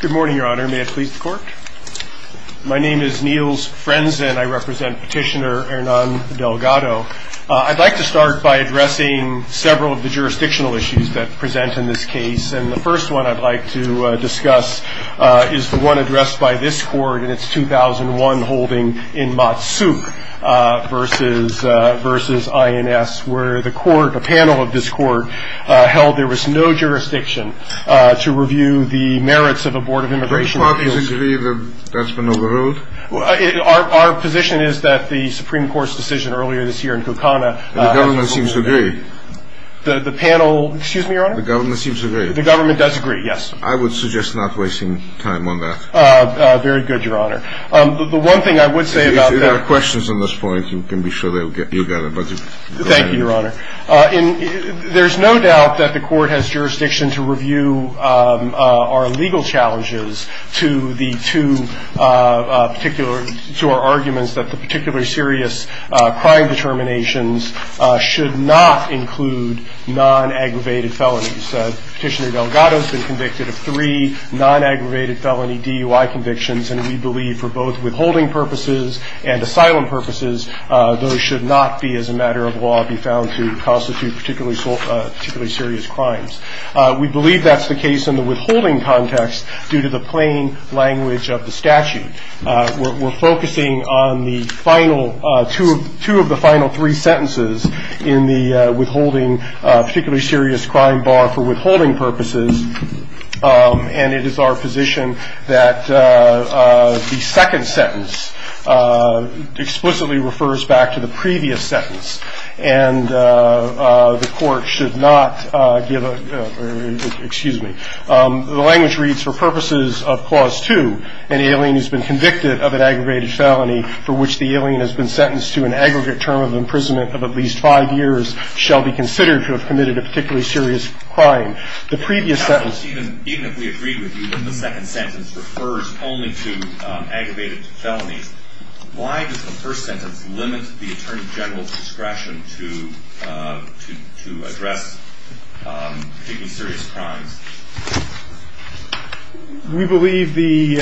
Good morning, Your Honor. My name is Niels Frenzen. I represent Petitioner Hernan Delgado. I'd like to start by addressing several of the jurisdictional issues that present in this case. The first one I'd like to discuss is the one addressed by this Court in its 2001 holding in Motsup v. INS, where the Court, a panel of this Court, held there was no jurisdiction to review the merits of a Board of Immigration Review. Do both parties agree that that's been overruled? Our position is that the Supreme Court's decision earlier this year in Kukana has been overruled. The government seems to agree. The panel, excuse me, Your Honor? The government seems to agree. The government does agree, yes. I would suggest not wasting time on that. Very good, Your Honor. The one thing I would say about that If there are questions on this point, you can be sure you'll get them. Thank you, Your Honor. There's no doubt that the Court has jurisdiction to review our legal challenges to our arguments that the particularly serious crime determinations should not include non-aggravated felonies. Petitioner Delgado has been convicted of three non-aggravated felony DUI convictions, and we believe for both withholding purposes and asylum purposes, those should not be, as a matter of law, be found to constitute particularly serious crimes. We believe that's the case in the withholding context due to the plain language of the statute. We're focusing on the final two of the final three sentences in the withholding particularly serious crime bar for withholding purposes, and it is our position that the second sentence explicitly refers back to the previous sentence, and the Court should not give a – excuse me. The language reads, For purposes of Clause 2, an alien who has been convicted of an aggravated felony for which the alien has been sentenced to an aggregate term of imprisonment of at least five years shall be considered to have committed a particularly serious crime. The previous sentence – Even if we agreed with you that the second sentence refers only to aggravated felonies, why does the first sentence limit the Attorney General's discretion to address particularly serious crimes? We believe the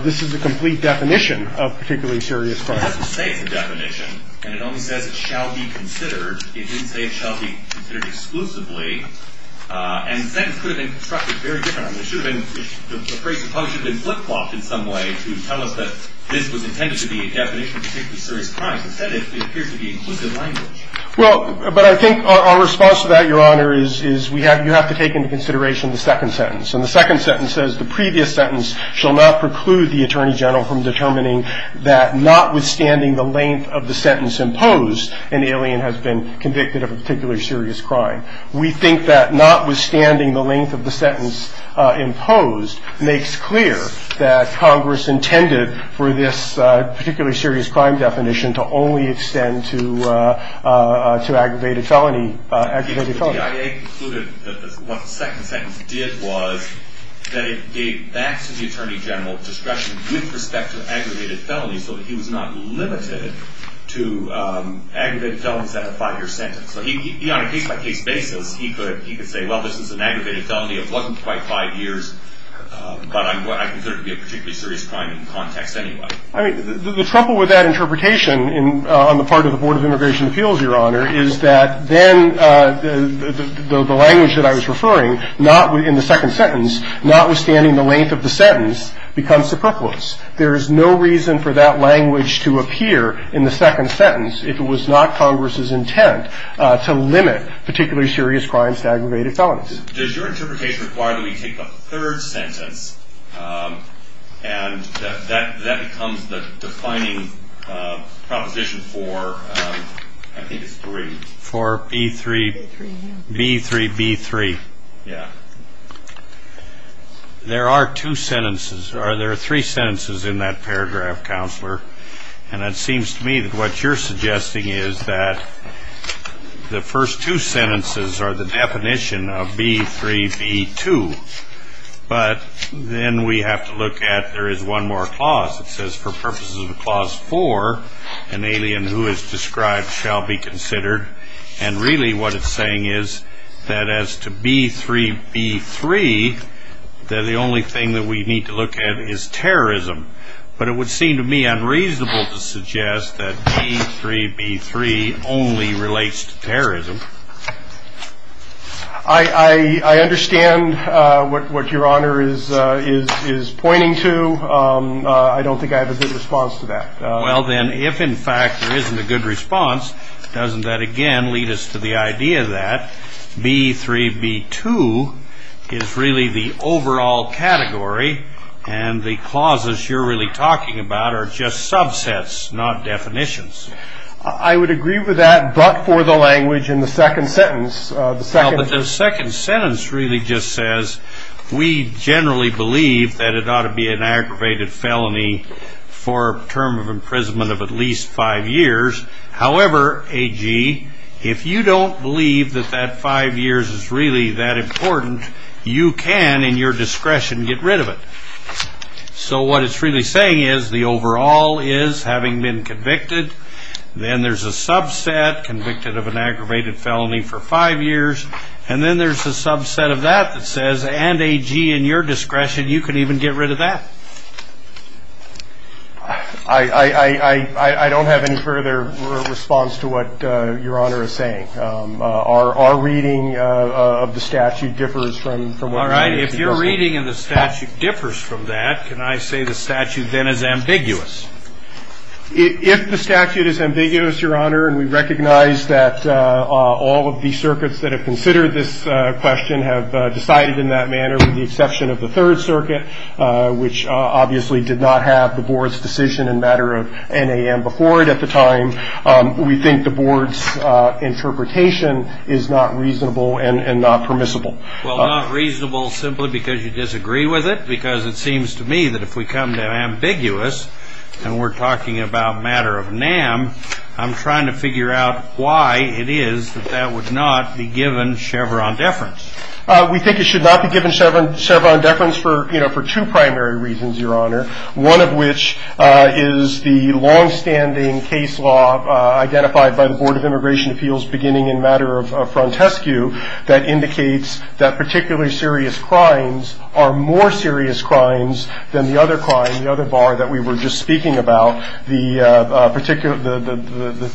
– this is a complete definition of particularly serious crimes. It doesn't say it's a definition, and it only says it shall be considered. It didn't say it shall be considered exclusively, and the sentence could have been constructed very differently. It should have been – the phrase should have been flip-flopped in some way to tell us that this was intended to be a definition of particularly serious crimes. Instead, it appears to be inclusive language. Well, but I think our response to that, Your Honor, is we have – you have to take into consideration the second sentence. And the second sentence says, The previous sentence shall not preclude the Attorney General from determining that, notwithstanding the length of the sentence imposed, an alien has been convicted of a particularly serious crime. We think that notwithstanding the length of the sentence imposed makes clear that Congress intended for this particularly serious crime definition to only extend to aggravated felony – aggravated felonies. The DIA concluded that what the second sentence did was that it gave back to the Attorney General discretion with respect to aggravated felonies so that he was not limited to aggravated felonies at a five-year sentence. So he – on a case-by-case basis, he could – he could say, well, this is an aggravated felony. It wasn't quite five years, but I consider it to be a particularly serious crime in context anyway. I mean, the trouble with that interpretation in – on the part of the Board of Immigration Appeals, Your Honor, is that then the language that I was referring, not – in the second sentence, notwithstanding the length of the sentence, becomes superfluous. There is no reason for that language to appear in the second sentence if it was not Congress's intent to limit particularly serious crimes to aggravated felonies. Does – does your interpretation require that we take the third sentence, and that becomes the defining proposition for – I think it's three. For B-3 – B-3-B-3. Yeah. There are two sentences – or there are three sentences in that paragraph, Counselor, and it seems to me that what you're suggesting is that the first two sentences are the definition of B-3-B-2, but then we have to look at there is one more clause that says, for purposes of Clause 4, an alien who is described shall be considered, and really what it's saying is that as to B-3-B-3, that the only thing that we need to look at is terrorism. But it would seem to me unreasonable to suggest that B-3-B-3 only relates to terrorism. I – I – I understand what – what Your Honor is – is pointing to. I don't think I have a good response to that. Well, then, if in fact there isn't a good response, doesn't that again lead us to the idea that B-3-B-2 is really the overall category and the clauses you're really talking about are just subsets, not definitions? I would agree with that, but for the language in the second sentence, the second – Well, but the second sentence really just says, we generally believe that it ought to be an aggravated felony for a term of imprisonment of at least five years. However, A.G., if you don't believe that that five years is really that important, you can, in your discretion, get rid of it. So what it's really saying is the overall is, having been convicted, then there's a subset, convicted of an aggravated felony for five years, and then there's a subset of that that says, and A.G., in your discretion, you can even get rid of that. I don't have any further response to what Your Honor is saying. Our reading of the statute differs from what we've seen. All right. If your reading of the statute differs from that, can I say the statute then is ambiguous? If the statute is ambiguous, Your Honor, and we recognize that all of the circuits that have considered this question have decided in that manner, with the exception of the Third Circuit, which obviously did not have the Board's decision in matter of NAM before it at the time, we think the Board's interpretation is not reasonable and not permissible. Well, not reasonable simply because you disagree with it, because it seems to me that if we come to ambiguous and we're talking about matter of NAM, I'm trying to figure out why it is that that would not be given Chevron deference. We think it should not be given Chevron deference for two primary reasons, Your Honor, one of which is the longstanding case law identified by the Board of Immigration Appeals beginning in matter of Frontescue that indicates that particularly serious crimes are more serious crimes than the other crime, the other bar that we were just speaking about, the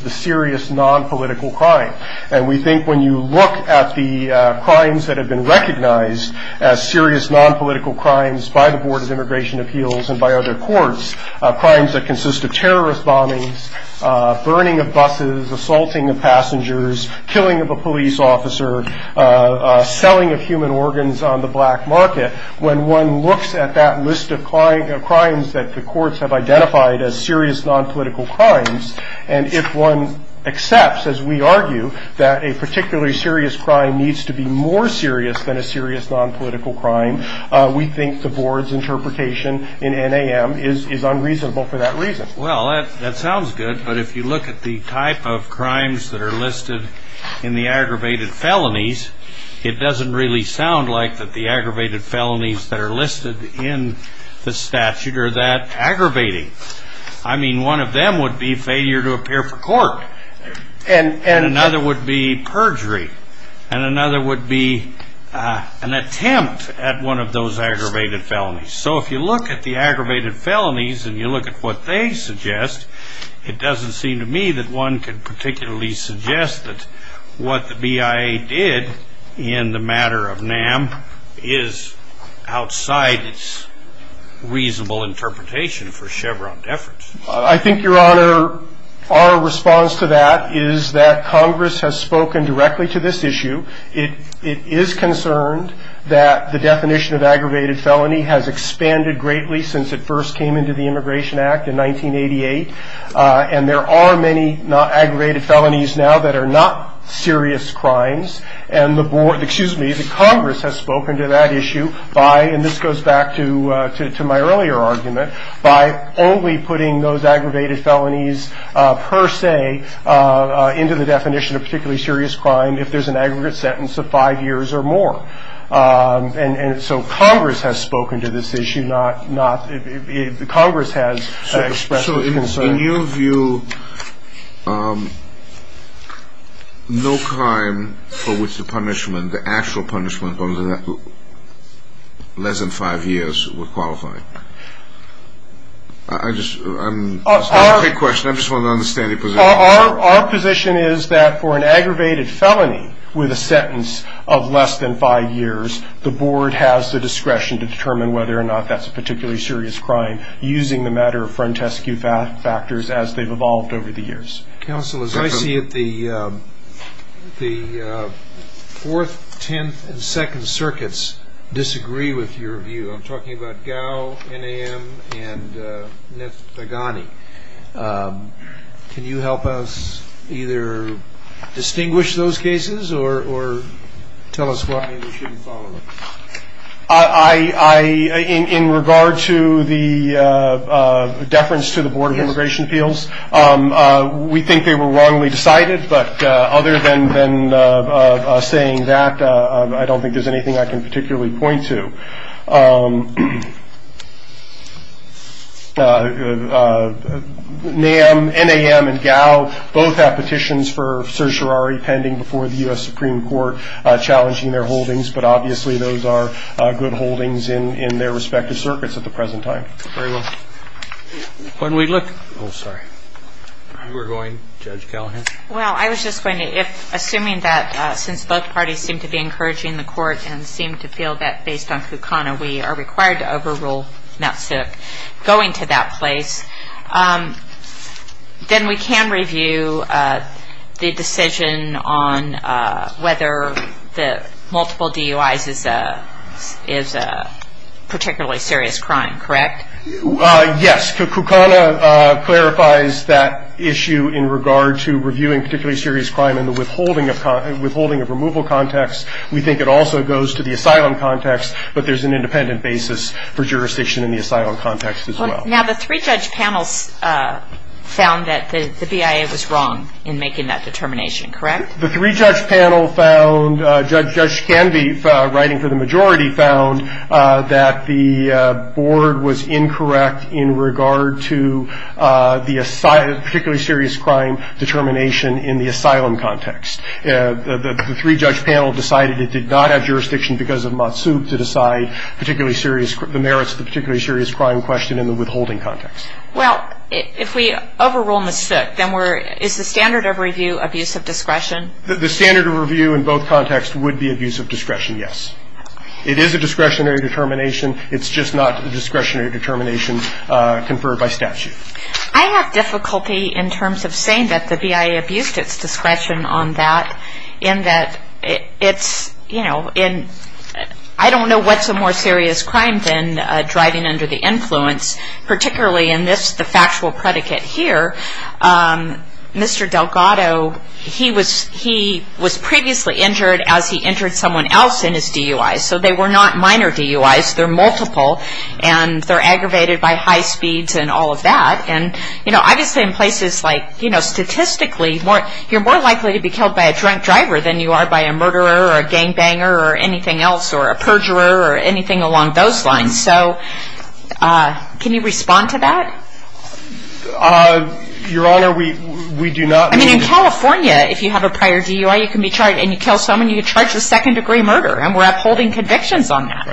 serious nonpolitical crime. And we think when you look at the crimes that have been recognized as serious nonpolitical crimes by the Board of Immigration Appeals and by other courts, crimes that consist of terrorist bombings, burning of buses, assaulting of passengers, killing of a police officer, selling of human organs on the black market, when one looks at that list of crimes that the courts have identified as serious nonpolitical crimes, and if one accepts, as we argue, that a particularly serious crime needs to be more serious than a serious nonpolitical crime, we think the Board's interpretation in NAM is unreasonable for that reason. Well, that sounds good, but if you look at the type of crimes that are listed in the aggravated felonies, it doesn't really sound like that the aggravated felonies that are listed in the statute are that aggravating. I mean, one of them would be failure to appear for court, and another would be perjury, and another would be an attempt at one of those aggravated felonies. So if you look at the aggravated felonies and you look at what they suggest, it doesn't seem to me that one could particularly suggest that what the BIA did in the matter of NAM is outside its reasonable interpretation for Chevron deference. I think, Your Honor, our response to that is that Congress has spoken directly to this issue. It is concerned that the definition of aggravated felony has expanded greatly since it first came into the Immigration Act in 1988, and there are many aggravated felonies now that are not serious crimes, and the Congress has spoken to that issue by, and this goes back to my earlier argument, by only putting those aggravated felonies per se into the definition of particularly serious crime if there's an aggregate sentence of five years or more. And so Congress has spoken to this issue. Congress has expressed this concern. In your view, no crime for which the punishment, the actual punishment, under that less than five years would qualify? That's a great question. I just want to understand your position. Our position is that for an aggravated felony with a sentence of less than five years, the Board has the discretion to determine whether or not that's a particularly serious crime using the matter of frontescue factors as they've evolved over the years. Counsel, as I see it, the Fourth, Tenth, and Second Circuits disagree with your view. I'm talking about Gao, NAM, and Neth Aghani. Can you help us either distinguish those cases or tell us why we shouldn't follow them? In regard to the deference to the Board of Immigration Appeals, we think they were wrongly decided. But other than saying that, I don't think there's anything I can particularly point to. NAM and Gao both have petitions for certiorari pending before the U.S. Supreme Court that are challenging their holdings, but obviously those are good holdings in their respective circuits at the present time. We're going to Judge Callahan. Well, I was just going to, assuming that since both parties seem to be encouraging the Court and seem to feel that, based on Kukana, we are required to overrule Mt. Sioux going to that place, then we can review the decision on whether the multiple DUIs is a particularly serious crime, correct? Yes. Kukana clarifies that issue in regard to reviewing particularly serious crime in the withholding of removal context. We think it also goes to the asylum context, but there's an independent basis for jurisdiction in the asylum context as well. Now, the three-judge panel found that the BIA was wrong in making that determination, correct? The three-judge panel found, Judge Canby, writing for the majority, found that the board was incorrect in regard to the particularly serious crime determination in the asylum context. The three-judge panel decided it did not have jurisdiction because of Mt. Sioux to decide the merits of the particularly serious crime question in the withholding context. Well, if we overrule Mt. Sioux, then is the standard of review abuse of discretion? The standard of review in both contexts would be abuse of discretion, yes. It is a discretionary determination. It's just not a discretionary determination conferred by statute. I have difficulty in terms of saying that the BIA abused its discretion on that in that it's, you know, I don't know what's a more serious crime than driving under the influence, particularly in the factual predicate here. Mr. Delgado, he was previously injured as he injured someone else in his DUI, so they were not minor DUIs. They're multiple, and they're aggravated by high speeds and all of that. And, you know, obviously in places like, you know, statistically, you're more likely to be killed by a drunk driver than you are by a murderer or a gangbanger or anything else or a perjurer or anything along those lines. So can you respond to that? Your Honor, we do not mean to – I mean, in California, if you have a prior DUI, you can be charged, and you kill someone, you can charge a second-degree murder, and we're upholding convictions on that.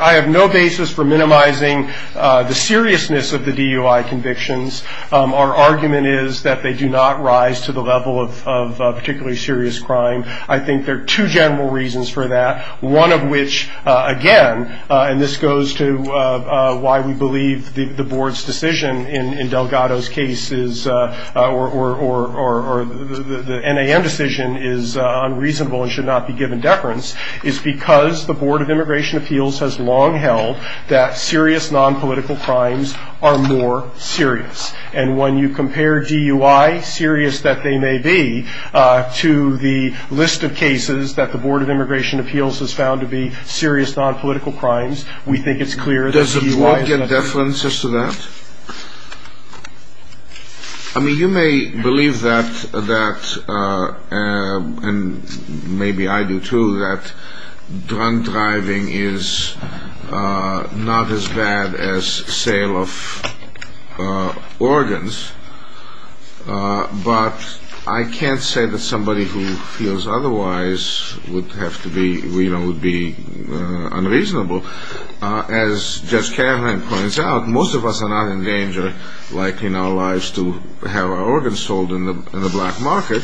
I have no basis for minimizing the seriousness of the DUI convictions. Our argument is that they do not rise to the level of particularly serious crime. I think there are two general reasons for that, one of which, again, and this goes to why we believe the Board's decision in Delgado's case is – or the NAM decision is unreasonable and should not be given deference – is because the Board of Immigration Appeals has long held that serious nonpolitical crimes are more serious. And when you compare DUI, serious that they may be, to the list of cases that the Board of Immigration Appeals has found to be serious nonpolitical crimes, we think it's clear that DUI – Does it not get deference as to that? I mean, you may believe that, and maybe I do too, that drunk driving is not as bad as sale of organs, but I can't say that somebody who feels otherwise would have to be – you know, would be unreasonable. As Judge Carlin points out, most of us are not in danger, like in our lives, to have our organs sold in the black market,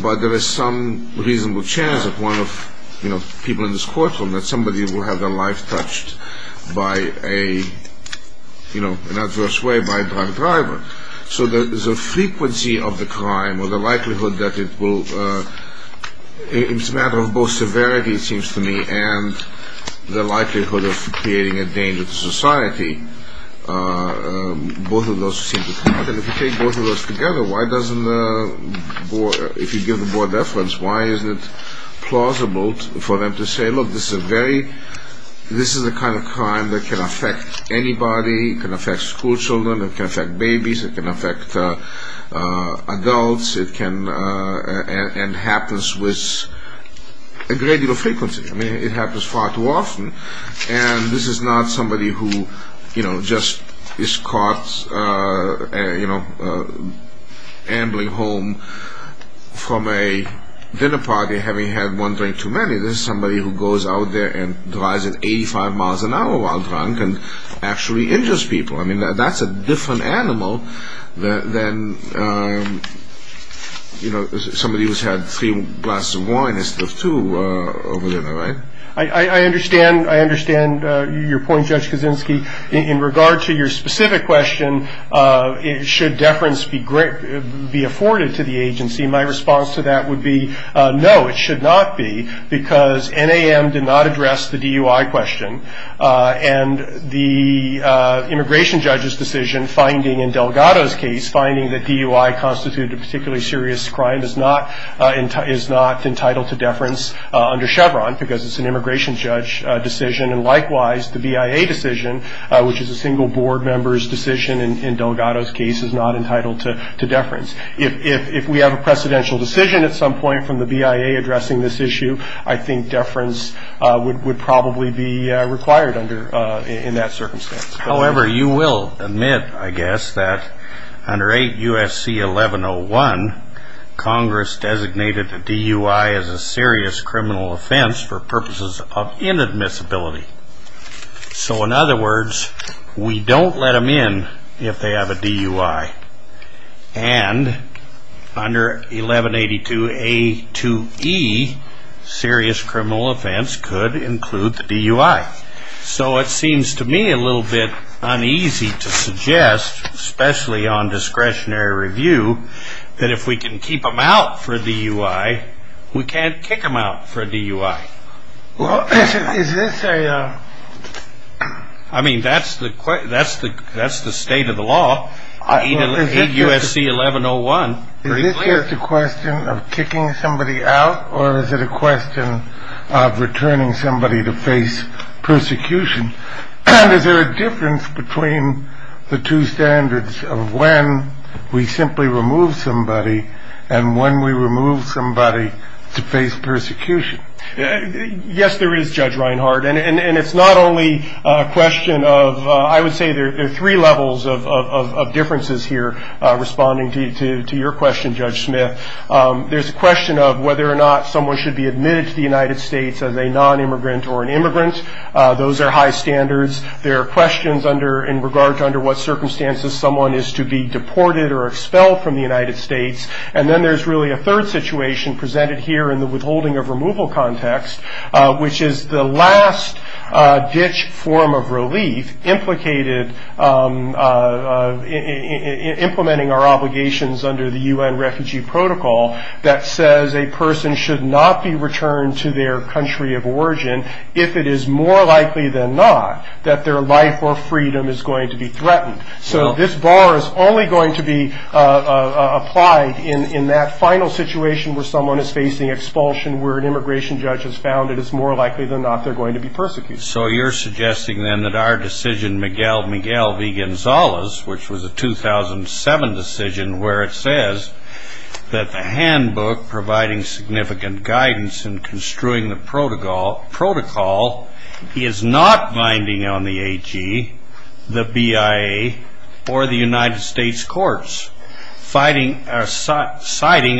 but there is some reasonable chance that one of, you know, people in this courtroom, that somebody will have their life touched by a, you know, in an adverse way by a drunk driver. So the frequency of the crime or the likelihood that it will – it's a matter of both severity, it seems to me, and the likelihood of creating a danger to society, both of those seem to count. And if you take both of those together, why doesn't the – if you give the board deference, why isn't it plausible for them to say, look, this is a very – this is the kind of crime that can affect anybody, it can affect school children, it can affect babies, it can affect adults, it can – and happens with a great deal of frequency. I mean, it happens far too often, and this is not somebody who, you know, just is caught, you know, ambling home from a dinner party, having had one drink too many. This is somebody who goes out there and drives at 85 miles an hour while drunk and actually injures people. I mean, that's a different animal than, you know, somebody who's had three glasses of wine instead of two over dinner, right? I understand your point, Judge Kaczynski. In regard to your specific question, should deference be afforded to the agency, my response to that would be no, it should not be, because NAM did not address the DUI question, and the immigration judge's decision finding in Delgado's case, finding that DUI constituted a particularly serious crime, is not entitled to deference under Chevron because it's an immigration judge decision, and likewise the BIA decision, which is a single board member's decision in Delgado's case, is not entitled to deference. If we have a precedential decision at some point from the BIA addressing this issue, I think deference would probably be required under – in that circumstance. However, you will admit, I guess, that under 8 U.S.C. 1101, Congress designated the DUI as a serious criminal offense for purposes of inadmissibility. So, in other words, we don't let them in if they have a DUI, and under 1182A2E, serious criminal offense could include the DUI. So it seems to me a little bit uneasy to suggest, especially on discretionary review, that if we can keep them out for a DUI, we can't kick them out for a DUI. Well, is this a – I mean, that's the state of the law, 8 U.S.C. 1101, pretty clear. Is this a question of kicking somebody out, or is it a question of returning somebody to face persecution? And is there a difference between the two standards of when we simply remove somebody and when we remove somebody to face persecution? Yes, there is, Judge Reinhart. And it's not only a question of – I would say there are three levels of differences here, responding to your question, Judge Smith. There's a question of whether or not someone should be admitted to the United States as a nonimmigrant or an immigrant. Those are high standards. There are questions in regard to under what circumstances someone is to be deported or expelled from the United States. And then there's really a third situation presented here in the withholding of removal context, which is the last ditch form of relief implicated in implementing our obligations under the U.N. refugee protocol that says a person should not be returned to their country of origin if it is more likely than not that their life or freedom is going to be threatened. So this bar is only going to be applied in that final situation where someone is facing expulsion, where an immigration judge has found it is more likely than not they're going to be persecuted. So you're suggesting then that our decision, Miguel Miguel v. Gonzalez, which was a 2007 decision where it says that the handbook providing significant guidance in construing the protocol is not binding on the AG, the BIA, or the United States courts, citing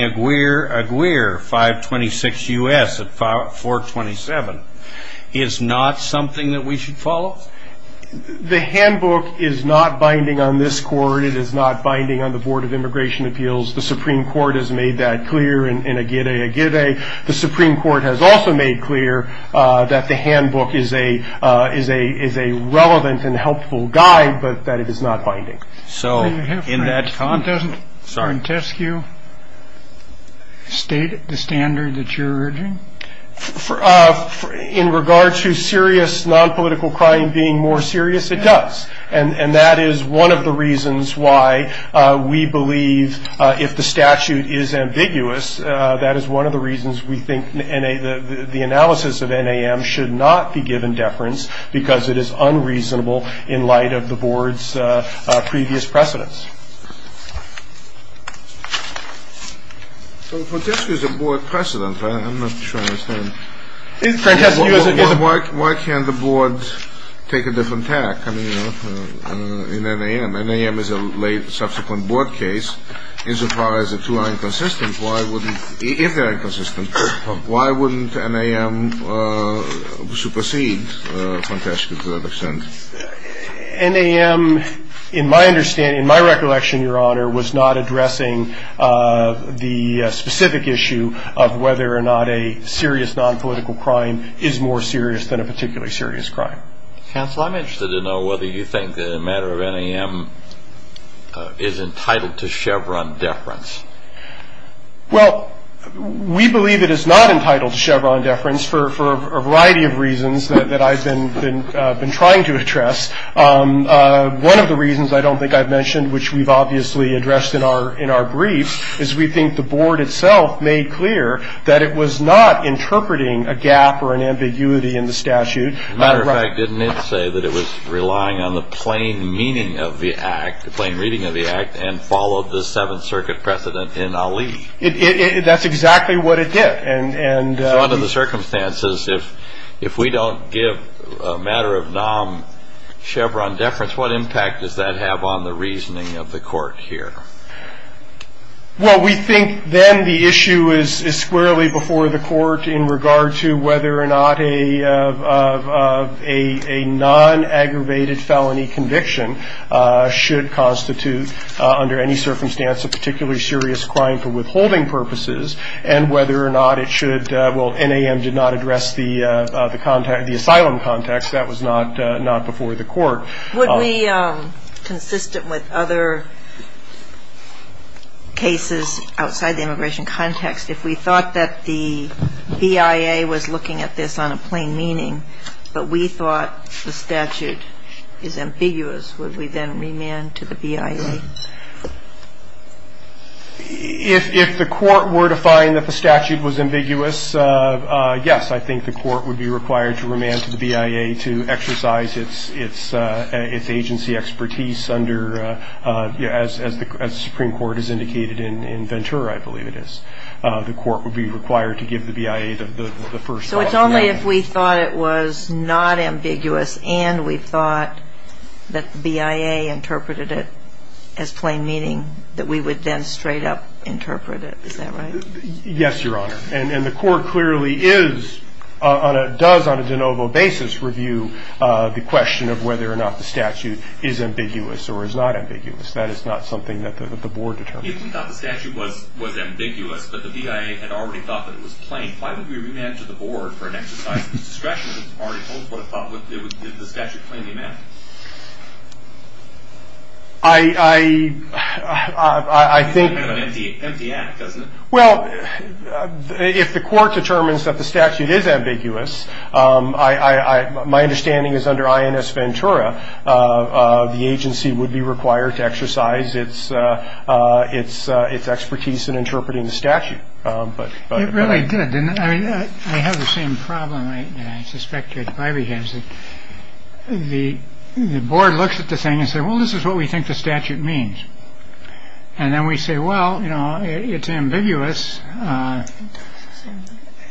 Aguirre 526 U.S. at 427, is not something that we should follow? The handbook is not binding on this court. It is not binding on the Board of Immigration Appeals. The Supreme Court has made that clear in Aguirre, Aguirre. The Supreme Court has also made clear that the handbook is a relevant and helpful guide, but that it is not binding. So in that context, sorry. Doesn't Frantescue state the standard that you're urging? In regard to serious nonpolitical crime being more serious, it does. And that is one of the reasons why we believe if the statute is ambiguous, that is one of the reasons we think the analysis of NAM should not be given deference because it is unreasonable in light of the board's previous precedents. So if Frantescue is a board precedent, I'm not sure I understand. Why can't the board take a different tack? I mean, you know, in NAM. NAM is a late, subsequent board case. Insofar as the two are inconsistent, why wouldn't, if they're inconsistent, why wouldn't NAM supersede Frantescue to that extent? NAM, in my understanding, in my recollection, Your Honor, was not addressing the specific issue of whether or not a serious nonpolitical crime is more serious than a particularly serious crime. Counsel, I'm interested to know whether you think that a matter of NAM is entitled to Chevron deference. Well, we believe it is not entitled to Chevron deference for a variety of reasons that I've been trying to address. One of the reasons I don't think I've mentioned, which we've obviously addressed in our brief, is we think the board itself made clear that it was not interpreting a gap or an ambiguity in the statute. As a matter of fact, and followed the Seventh Circuit precedent in Ali. That's exactly what it did. So under the circumstances, if we don't give a matter of NAM Chevron deference, what impact does that have on the reasoning of the court here? Well, we think then the issue is squarely before the court in regard to whether or not a non-aggravated felony conviction should constitute under any circumstance a particularly serious crime for withholding purposes and whether or not it should, well, NAM did not address the asylum context. That was not before the court. Would we, consistent with other cases outside the immigration context, if we thought that the BIA was looking at this on a plain meaning, but we thought the statute is ambiguous, would we then remand to the BIA? If the court were to find that the statute was ambiguous, yes, I think the court would be required to remand to the BIA to exercise its agency expertise under, as the Supreme Court has indicated in Ventura, I believe it is, the court would be required to give the BIA the first option. So it's only if we thought it was not ambiguous and we thought that the BIA interpreted it as plain meaning that we would then straight up interpret it. Is that right? Yes, Your Honor. And the court clearly is, does on a de novo basis, review the question of whether or not the statute is ambiguous or is not ambiguous. That is not something that the board determines. If we thought the statute was ambiguous, but the BIA had already thought that it was plain, why would we remand to the board for an exercise of its discretion? It's already told us what it thought the statute was plainly meant. I think... It's kind of an empty act, isn't it? Well, if the court determines that the statute is ambiguous, my understanding is under INS Ventura, the agency would be required to exercise its expertise in interpreting the statute. But it really did. I mean, I have the same problem. And I suspect that the board looks at the thing and say, well, this is what we think the statute means. And then we say, well, you know, it's ambiguous.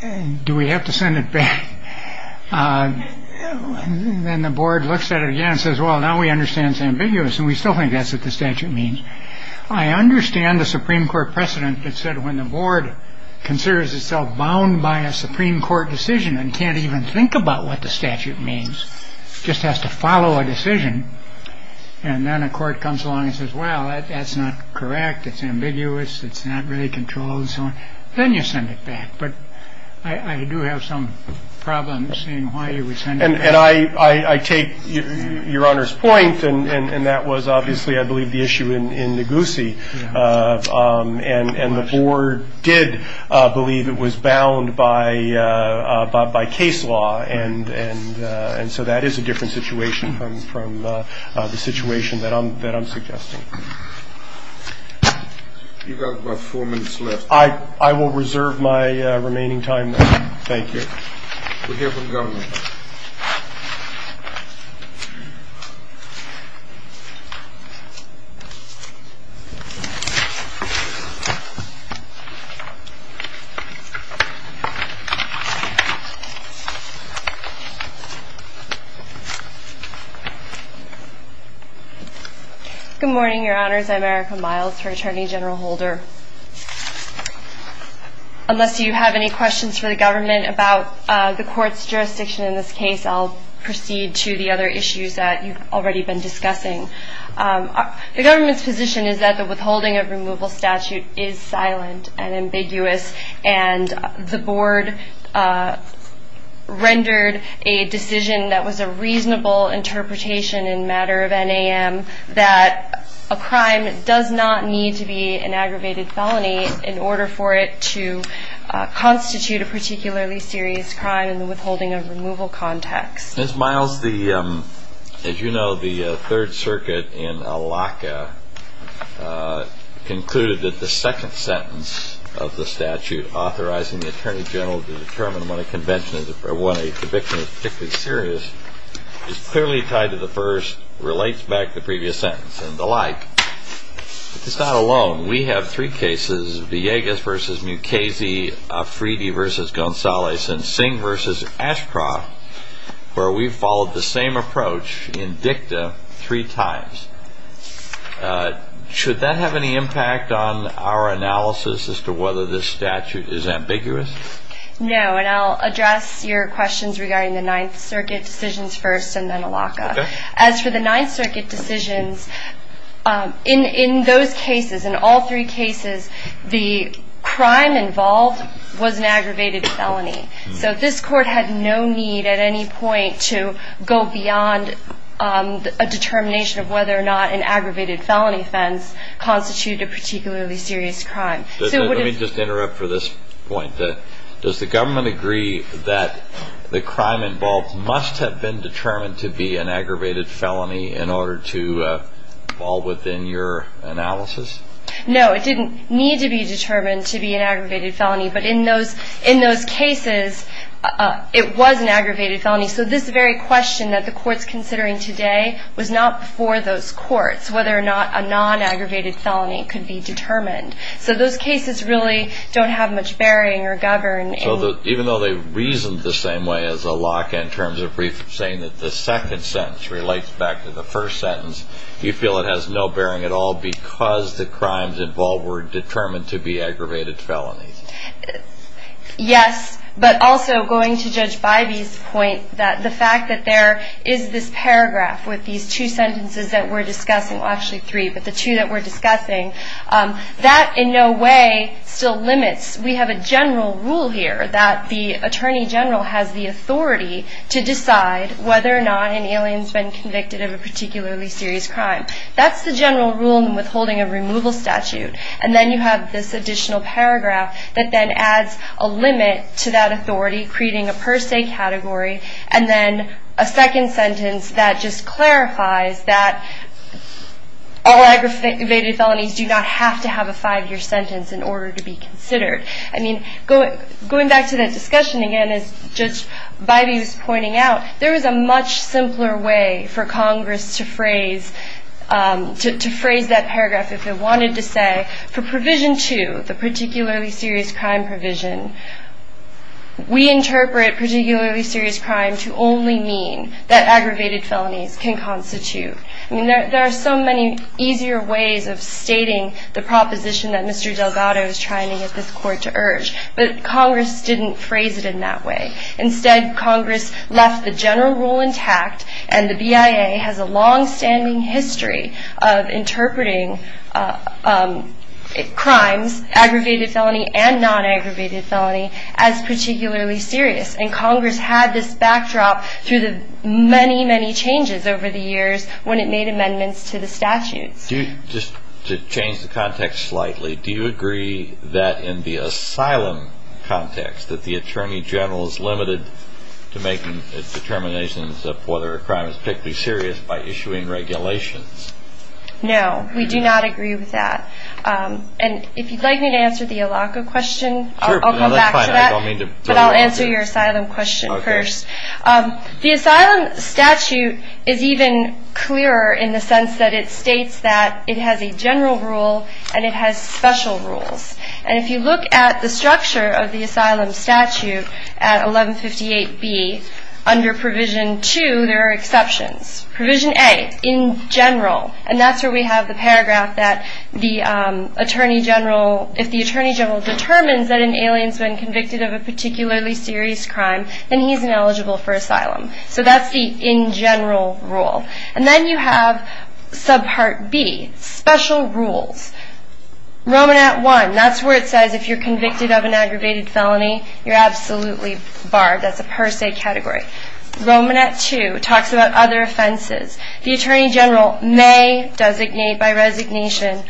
And do we have to send it back? Then the board looks at it again, says, well, now we understand it's ambiguous. And we still think that's what the statute means. I understand the Supreme Court precedent that said when the board considers itself bound by a Supreme Court decision and can't even think about what the statute means, just has to follow a decision. And then a court comes along and says, well, that's not correct. It's ambiguous. It's not really controlled. Then you send it back. But I do have some problems seeing why you would send it back. I take Your Honor's point, and that was obviously, I believe, the issue in Ngozi. And the board did believe it was bound by case law. And so that is a different situation from the situation that I'm suggesting. You've got about four minutes left. I will reserve my remaining time, then. Thank you. We'll hear from the government. Good morning, Your Honors. I'm Erica Miles, Attorney General Holder. Unless you have any questions for the government about the court's jurisdiction in this case, I'll proceed to the other issues that you've already been discussing. The government's position is that the withholding of removal statute is silent and ambiguous, and the board rendered a decision that was a reasonable interpretation in matter of NAM that a crime does not need to be an aggravated felony in order for it to constitute a particularly serious crime in the withholding of removal context. Ms. Miles, as you know, the Third Circuit in Alaca concluded that the second sentence of the statute authorizing the Attorney General to determine when a conviction is particularly serious is clearly tied to the first, relates back to the previous sentence, and the like. It's not alone. We have three cases, Villegas v. Mukasey, Afridi v. Gonzalez, and Singh v. Ashcroft, where we've followed the same approach in dicta three times. Should that have any impact on our analysis as to whether this statute is ambiguous? No, and I'll address your questions regarding the Ninth Circuit decisions first and then Alaca. As for the Ninth Circuit decisions, in those cases, in all three cases, the crime involved was an aggravated felony. So this court had no need at any point to go beyond a determination of whether or not an aggravated felony offense constituted a particularly serious crime. Let me just interrupt for this point. Does the government agree that the crime involved must have been determined to be an aggravated felony in order to fall within your analysis? No, it didn't need to be determined to be an aggravated felony, but in those cases, it was an aggravated felony. So this very question that the Court's considering today was not before those courts, whether or not a non-aggravated felony could be determined. So those cases really don't have much bearing or govern. So even though they reasoned the same way as Alaca in terms of saying that the second sentence relates back to the first sentence, you feel it has no bearing at all because the crimes involved were determined to be aggravated felonies? Yes, but also going to Judge Bybee's point, the fact that there is this paragraph with these two sentences that we're discussing, well, actually three, but the two that we're discussing, that in no way still limits. We have a general rule here that the Attorney General has the authority to decide whether or not an alien's been convicted of a particularly serious crime. That's the general rule in withholding a removal statute. And then you have this additional paragraph that then adds a limit to that authority, creating a per se category, and then a second sentence that just clarifies that all aggravated felonies do not have to have a five-year sentence in order to be considered. I mean, going back to that discussion again, as Judge Bybee was pointing out, there is a much simpler way for Congress to phrase that paragraph if it wanted to say, for Provision 2, the particularly serious crime provision, we interpret particularly serious crime to only mean that aggravated felonies can constitute. I mean, there are so many easier ways of stating the proposition that Mr. Delgado is trying to get this court to urge, but Congress didn't phrase it in that way. Instead, Congress left the general rule intact, and the BIA has a longstanding history of interpreting crimes, aggravated felony and non-aggravated felony, as particularly serious. And Congress had this backdrop through the many, many changes over the years when it made amendments to the statutes. Just to change the context slightly, do you agree that in the asylum context, that the Attorney General is limited to making determinations of whether a crime is particularly serious by issuing regulations? No, we do not agree with that. And if you'd like me to answer the ALACA question, I'll come back to that. But I'll answer your asylum question first. The asylum statute is even clearer in the sense that it states that it has a general rule and it has special rules. And if you look at the structure of the asylum statute at 1158B, under Provision 2, there are exceptions. Provision A, in general, and that's where we have the paragraph that if the Attorney General determines that an alien's been convicted of a particularly serious crime, then he's ineligible for asylum. So that's the in general rule. And then you have subpart B, special rules. Romanat 1, that's where it says if you're convicted of an aggravated felony, you're absolutely barred. That's a per se category. Romanat 2 talks about other offenses. The Attorney General may designate by resignation,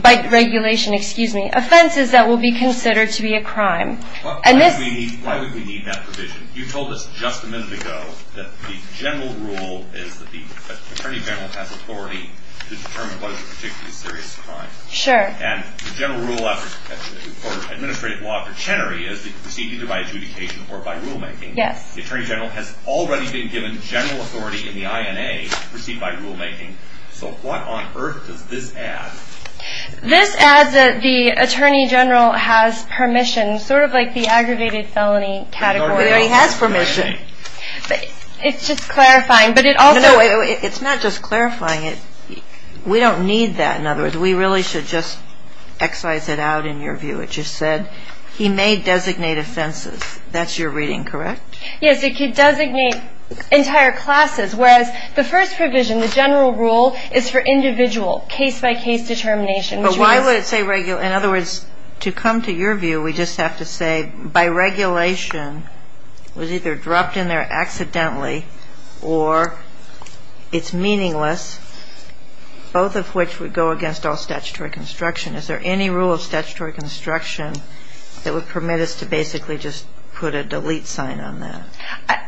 by regulation, offenses that will be considered to be a crime. Why would we need that provision? You told us just a minute ago that the general rule is that the Attorney General has authority to determine what is a particularly serious crime. Sure. And the general rule for administrative law for Chenery is that you proceed either by adjudication or by rulemaking. Yes. The Attorney General has already been given general authority in the INA to proceed by rulemaking. So what on earth does this add? This adds that the Attorney General has permission, sort of like the aggravated felony category. But he has permission. It's just clarifying. It's not just clarifying. We don't need that. In other words, we really should just excise it out in your view. It just said he may designate offenses. That's your reading, correct? Yes. It could designate entire classes. Whereas the first provision, the general rule, is for individual case-by-case determination. But why would it say regular? In other words, to come to your view, we just have to say by regulation, was either dropped in there accidentally or it's meaningless, both of which would go against all statutory construction. Is there any rule of statutory construction that would permit us to basically just put a delete sign on that?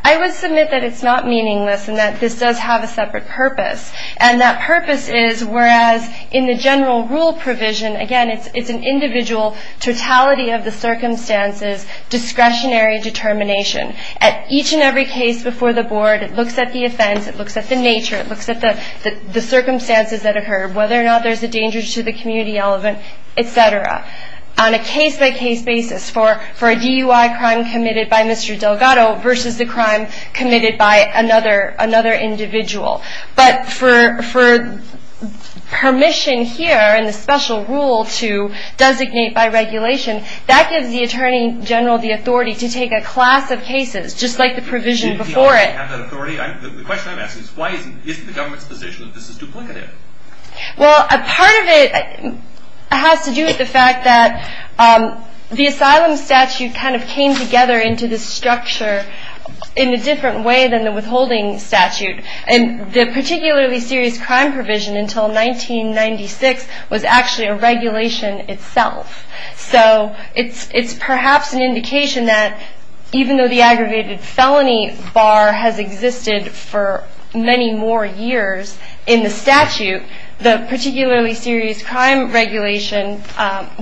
I would submit that it's not meaningless and that this does have a separate purpose. And that purpose is whereas in the general rule provision, again, it's an individual totality of the circumstances, discretionary determination. At each and every case before the board, it looks at the offense, it looks at the nature, it looks at the circumstances that occurred, whether or not there's a danger to the community element, et cetera, on a case-by-case basis for a DUI crime committed by Mr. Delgado versus the crime committed by another individual. But for permission here in the special rule to designate by regulation, that gives the attorney general the authority to take a class of cases, just like the provision before it. The question I'm asking is why isn't the government's position that this is duplicative? Well, a part of it has to do with the fact that the asylum statute kind of came together into this structure in a different way than the withholding statute. And the particularly serious crime provision until 1996 was actually a regulation itself. So it's perhaps an indication that even though the aggravated felony bar has existed for many more years in the statute, the particularly serious crime regulation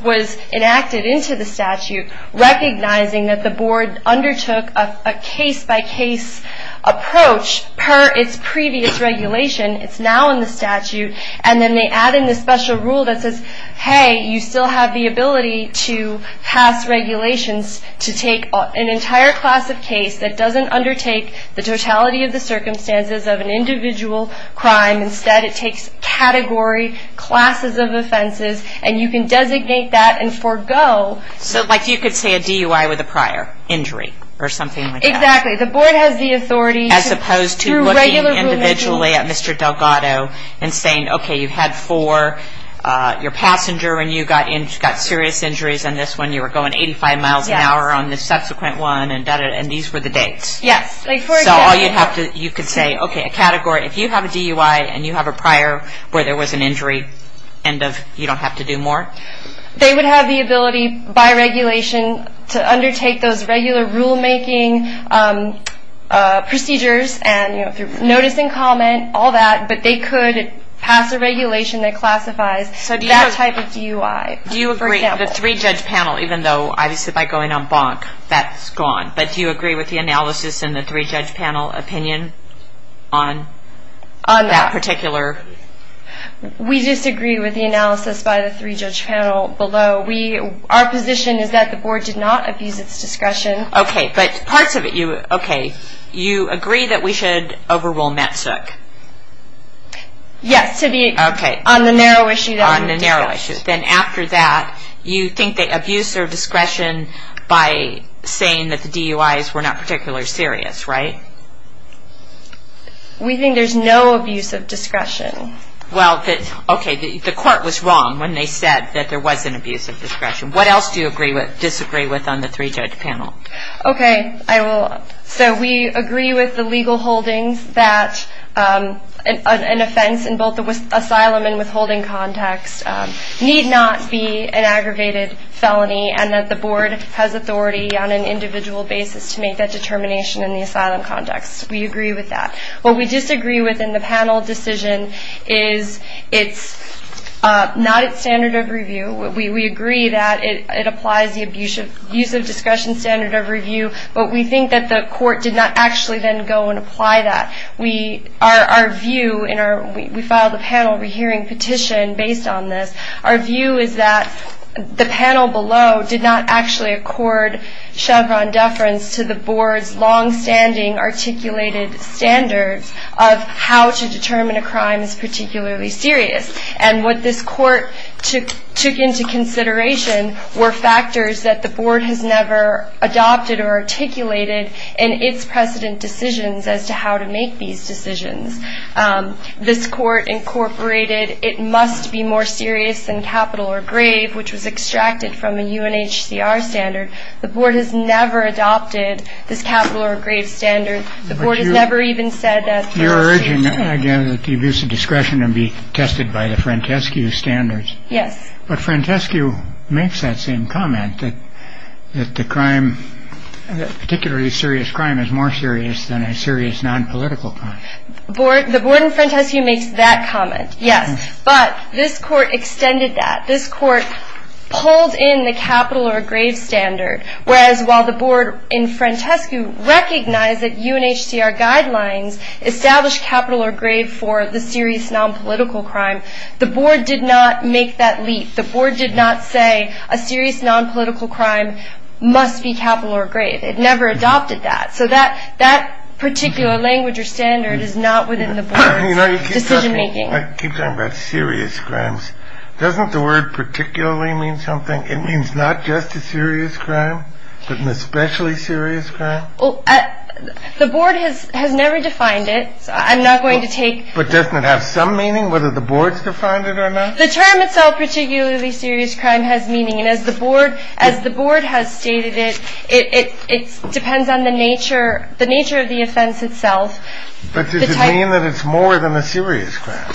was enacted into the statute, recognizing that the board undertook a case-by-case approach per its previous regulation. It's now in the statute. And then they add in the special rule that says, hey, you still have the ability to pass regulations to take an entire class of case that doesn't undertake the totality of the circumstances of an individual crime. Instead, it takes category classes of offenses, and you can designate that and forego. So like you could say a DUI with a prior injury or something like that. Exactly. The board has the authority, through regular review. As opposed to looking individually at Mr. Delgado and saying, okay, you had four. Your passenger when you got serious injuries on this one, you were going 85 miles an hour on the subsequent one, and these were the dates. Yes. So you could say, okay, a category. If you have a DUI and you have a prior where there was an injury, you don't have to do more? They would have the ability by regulation to undertake those regular rulemaking procedures and through notice and comment, all that. But they could pass a regulation that classifies that type of DUI. Do you agree, the three-judge panel, even though obviously by going on bonk, that's gone. But do you agree with the analysis and the three-judge panel opinion on that particular? We disagree with the analysis by the three-judge panel below. Our position is that the board did not abuse its discretion. Okay. But parts of it, okay, you agree that we should overrule METSOC? Yes. On the narrow issue. On the narrow issue. Then after that, you think they abused their discretion by saying that the DUIs were not particularly serious, right? We think there's no abuse of discretion. Well, okay, the court was wrong when they said that there was an abuse of discretion. What else do you disagree with on the three-judge panel? Okay, so we agree with the legal holdings that an offense in both the asylum and withholding context need not be an aggravated felony and that the board has authority on an individual basis to make that determination in the asylum context. We agree with that. What we disagree with in the panel decision is it's not at standard of review. We agree that it applies the abuse of discretion standard of review, but we think that the court did not actually then go and apply that. Our view, and we filed a panel rehearing petition based on this, our view is that the panel below did not actually accord Chevron deference to the board's longstanding articulated standards of how to determine a crime as particularly serious. And what this court took into consideration were factors that the board has never adopted or articulated in its precedent decisions as to how to make these decisions. This court incorporated it must be more serious than capital or grave, which was extracted from a UNHCR standard. The board has never adopted this capital or grave standard. The board has never even said that. You're urging, again, that the abuse of discretion be tested by the Frantescu standards. Yes. But Frantescu makes that same comment that the crime, particularly serious crime, is more serious than a serious nonpolitical crime. The board in Frantescu makes that comment, yes. But this court extended that. This court pulled in the capital or grave standard, whereas while the board in Frantescu recognized that UNHCR guidelines established capital or grave for the serious nonpolitical crime, the board did not make that leap. The board did not say a serious nonpolitical crime must be capital or grave. It never adopted that. So that particular language or standard is not within the board's decision making. I keep talking about serious crimes. Doesn't the word particularly mean something? It means not just a serious crime, but an especially serious crime? The board has never defined it. I'm not going to take. But doesn't it have some meaning, whether the board's defined it or not? The term itself, particularly serious crime, has meaning. As the board has stated, it depends on the nature of the offense itself. But does it mean that it's more than a serious crime?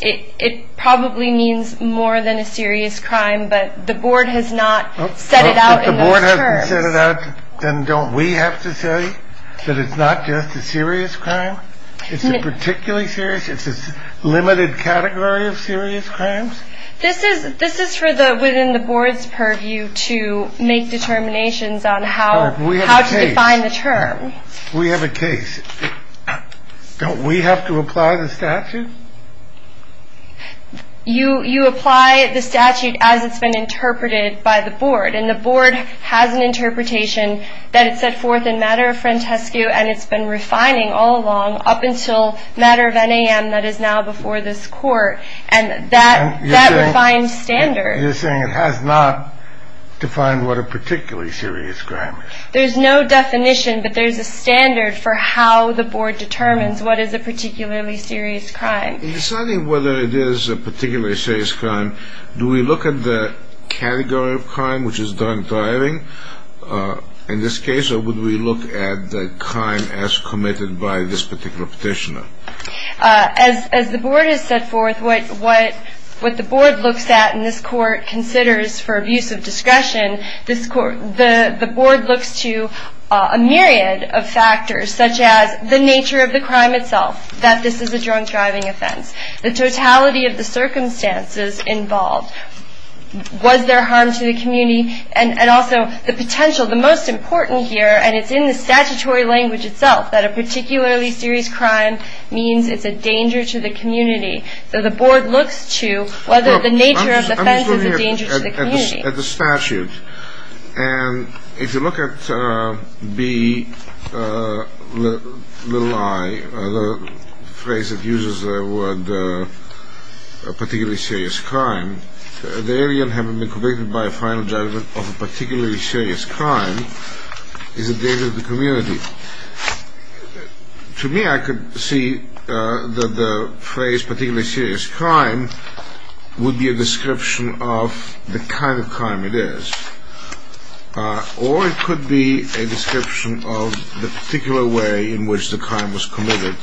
It probably means more than a serious crime. But the board has not set it out in those terms. If the board hasn't set it out, then don't we have to say that it's not just a serious crime? It's a particularly serious? It's a limited category of serious crimes? This is for within the board's purview to make determinations on how to define the term. We have a case. Don't we have to apply the statute? You apply the statute as it's been interpreted by the board. And the board has an interpretation that it set forth in matter of frantescu, and it's been refining all along up until matter of NAM that is now before this court. And that refined standard. You're saying it has not defined what a particularly serious crime is? There's no definition, but there's a standard for how the board determines what is a particularly serious crime. In deciding whether it is a particularly serious crime, do we look at the category of crime, which is drug driving in this case, or would we look at the crime as committed by this particular petitioner? As the board has set forth what the board looks at and this court considers for abuse of discretion, the board looks to a myriad of factors such as the nature of the crime itself, that this is a drug driving offense, the totality of the circumstances involved, was there harm to the community, and also the potential. The most important here, and it's in the statutory language itself, that a particularly serious crime means it's a danger to the community. So the board looks to whether the nature of the offense is a danger to the community. I'm just looking at the statute. And if you look at B, little i, the phrase that uses the word particularly serious crime, the alien having been convicted by a final judgment of a particularly serious crime, is a danger to the community. To me, I could see that the phrase particularly serious crime would be a description of the kind of crime it is. Or it could be a description of the particular way in which the crime was committed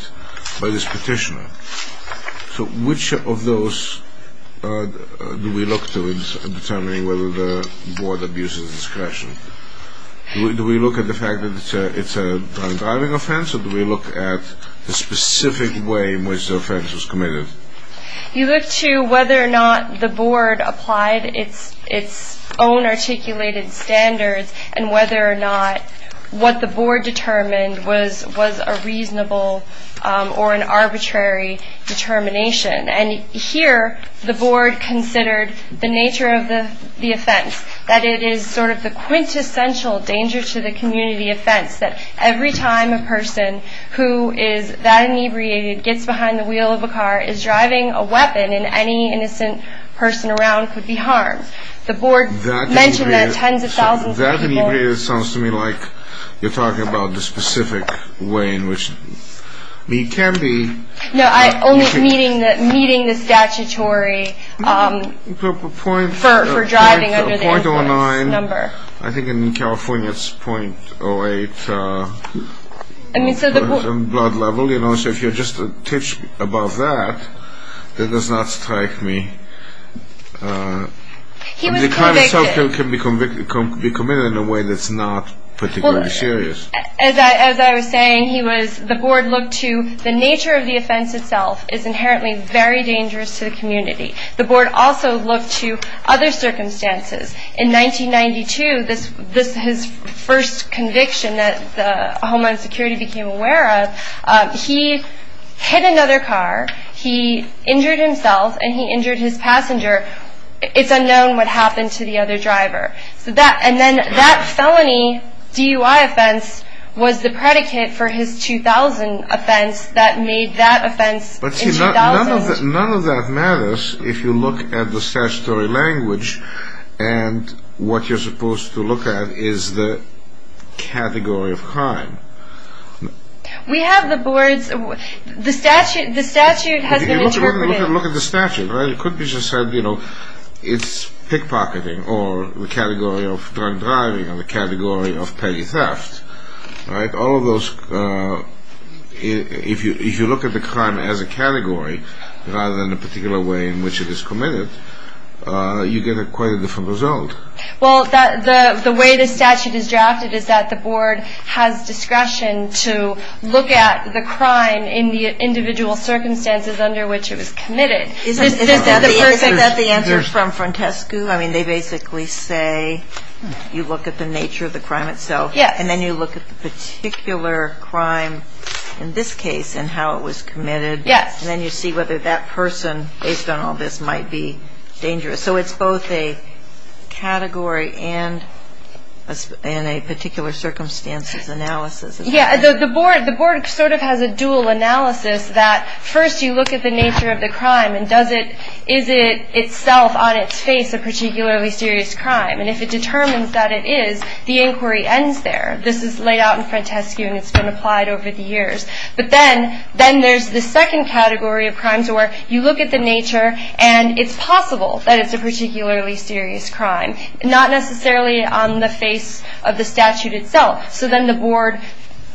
by this petitioner. So which of those do we look to in determining whether the board abuses discretion? Do we look at the fact that it's a drug driving offense, or do we look at the specific way in which the offense was committed? You look to whether or not the board applied its own articulated standards and whether or not what the board determined was a reasonable or an arbitrary determination. And here the board considered the nature of the offense, that it is sort of the quintessential danger to the community offense, that every time a person who is that inebriated gets behind the wheel of a car is driving a weapon, and any innocent person around could be harmed. The board mentioned that tens of thousands of times. That inebriated sounds to me like you're talking about the specific way in which it can be. No, I'm only meeting the statutory for driving under the influence number. I think in California it's .08 blood level. So if you're just a pitch above that, that does not strike me. He was convicted. It can be committed in a way that's not particularly serious. As I was saying, the board looked to the nature of the offense itself is inherently very dangerous to the community. The board also looked to other circumstances. In 1992, his first conviction that Homeland Security became aware of, he hit another car, he injured himself, and he injured his passenger. It's unknown what happened to the other driver. And then that felony DUI offense was the predicate for his 2000 offense that made that offense in 2000. None of that matters if you look at the statutory language and what you're supposed to look at is the category of crime. We have the boards. The statute has been interpreted. Look at the statute. It could be just said, you know, it's pickpocketing or the category of drunk driving or the category of petty theft. If you look at the crime as a category rather than a particular way in which it is committed, you get quite a different result. Well, the way the statute is drafted is that the board has discretion to look at the crime in the individual circumstances under which it was committed. Isn't that the answer from Frontescu? I mean, they basically say you look at the nature of the crime itself and then you look at the particular crime in this case and how it was committed. Yes. And then you see whether that person, based on all this, might be dangerous. So it's both a category and a particular circumstances analysis. Yeah. The board sort of has a dual analysis that first you look at the nature of the crime and is it itself on its face a particularly serious crime. And if it determines that it is, the inquiry ends there. This is laid out in Frontescu and it's been applied over the years. But then there's the second category of crimes where you look at the nature and it's possible that it's a particularly serious crime, not necessarily on the face of the statute itself. So then the board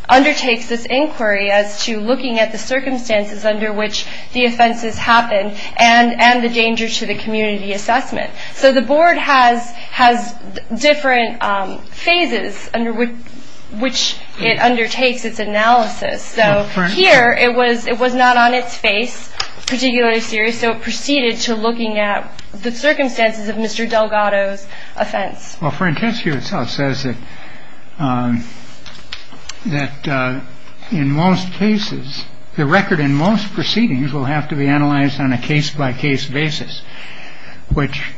undertakes this inquiry as to looking at the circumstances under which the offenses happened and the danger to the community assessment. So the board has has different phases under which it undertakes its analysis. So here it was. It was not on its face particularly serious. So it proceeded to looking at the circumstances of Mr. Delgado's offense. Well, Frontescu says that that in most cases, the record in most proceedings will have to be analyzed on a case by case basis, which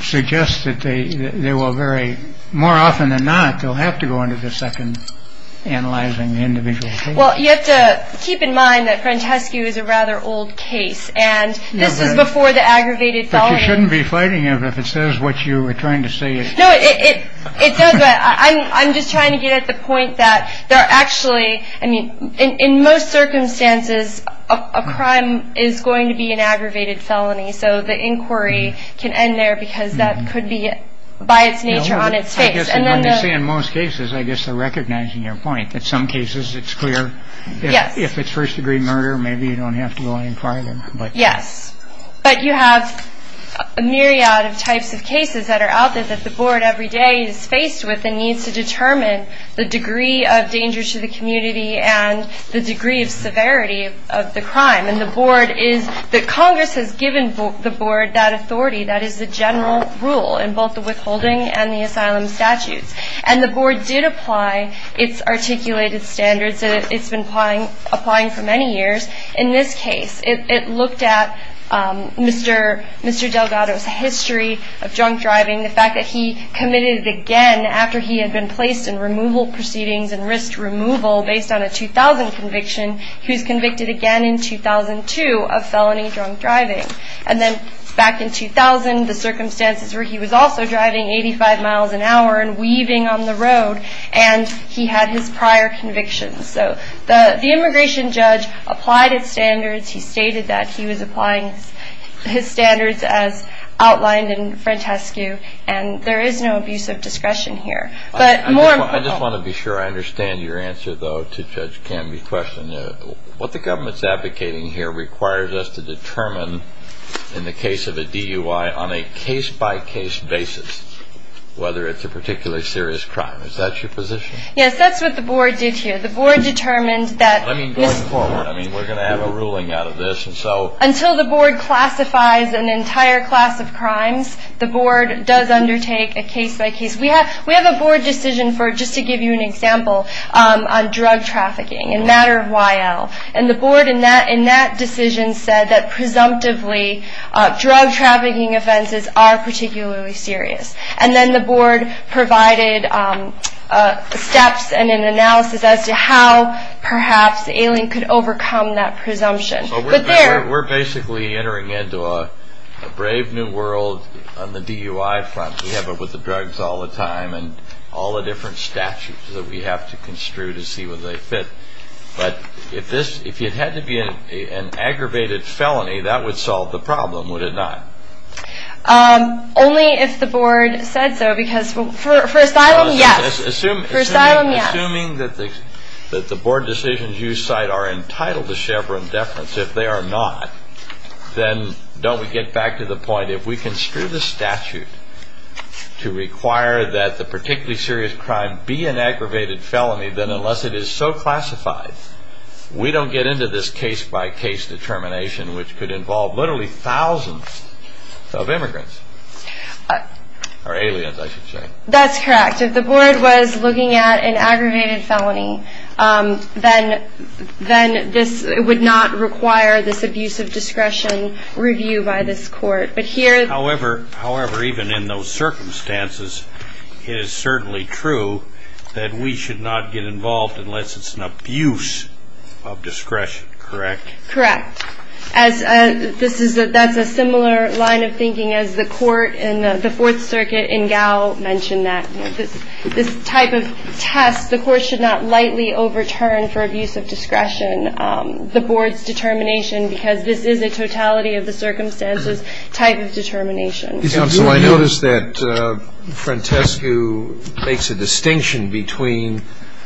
suggests that they will very more often than not, they'll have to go into the second analyzing individual. Well, you have to keep in mind that Frontescu is a rather old case and this is before the aggravated. You shouldn't be fighting him if it says what you were trying to say. No, it does. I'm just trying to get at the point that there are actually I mean, in most circumstances, a crime is going to be an aggravated felony. So the inquiry can end there because that could be by its nature on its face. And then you say in most cases, I guess they're recognizing your point. In some cases, it's clear. Yes. If it's first degree murder, maybe you don't have to go in private. But yes, but you have a myriad of types of cases that are out there that the board every day is faced with and needs to determine the degree of danger to the community and the degree of severity of the crime. And the board is that Congress has given the board that authority. That is the general rule in both the withholding and the asylum statutes. And the board did apply its articulated standards. It's been applying, applying for many years. In this case, it looked at Mr. Mr. Delgado's history of drunk driving, the fact that he committed again after he had been placed in removal proceedings and risked removal based on a 2000 conviction. He was convicted again in 2002 of felony drunk driving. And then back in 2000, the circumstances where he was also driving 85 miles an hour and weaving on the road. And he had his prior convictions. So the immigration judge applied its standards. He stated that he was applying his standards as outlined in Francesco. And there is no abuse of discretion here. But more. I just want to be sure I understand your answer, though, to Judge Canby's question. What the government's advocating here requires us to determine in the case of a DUI on a case by case basis, whether it's a particularly serious crime. Is that your position? Yes, that's what the board did here. The board determined that. I mean, going forward, I mean, we're going to have a ruling out of this. And so until the board classifies an entire class of crimes, the board does undertake a case by case. We have we have a board decision for just to give you an example on drug trafficking and matter of while. And the board in that in that decision said that presumptively drug trafficking offenses are particularly serious. And then the board provided steps and an analysis as to how perhaps the alien could overcome that presumption. We're basically entering into a brave new world on the DUI front. We have it with the drugs all the time and all the different statutes that we have to construe to see where they fit. But if this if it had to be an aggravated felony, that would solve the problem, would it not? Only if the board said so, because for asylum, yes. Assuming that the that the board decisions you cite are entitled to Chevron deference. If they are not, then don't we get back to the point? If we can screw the statute to require that the particularly serious crime be an aggravated felony, then unless it is so classified, we don't get into this case by case determination, which could involve literally thousands of immigrants or aliens. That's correct. If the board was looking at an aggravated felony, then then this would not require this abuse of discretion review by this court. But here, however, however, even in those circumstances, it is certainly true that we should not get involved unless it's an abuse of discretion. Correct. Correct. As this is that that's a similar line of thinking as the court in the Fourth Circuit in Gao mentioned that this type of test, the court should not lightly overturn for abuse of discretion the board's determination, because this is a totality of the circumstances type of determination. Counsel, I noticed that Francesco makes a distinction between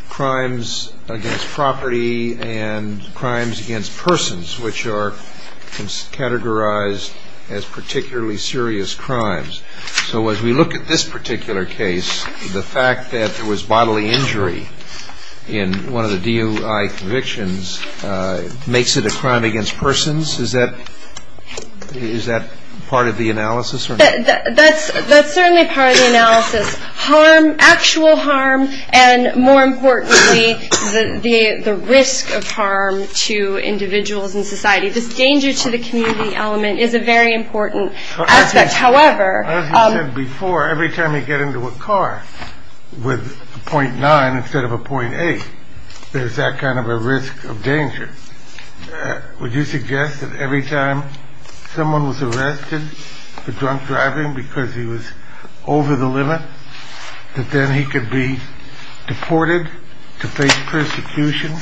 crimes against property and crimes against persons, which are categorized as particularly serious crimes. So as we look at this particular case, the fact that there was bodily injury in one of the DUI convictions makes it a crime against persons. Is that is that part of the analysis? That's that's certainly part of the analysis. Harm, actual harm. And more importantly, the risk of harm to individuals in society. This danger to the community element is a very important aspect. However, before every time you get into a car with point nine instead of a point eight, there's that kind of a risk of danger. Would you suggest that every time someone was arrested for drunk driving because he was over the limit, that then he could be deported to face persecution?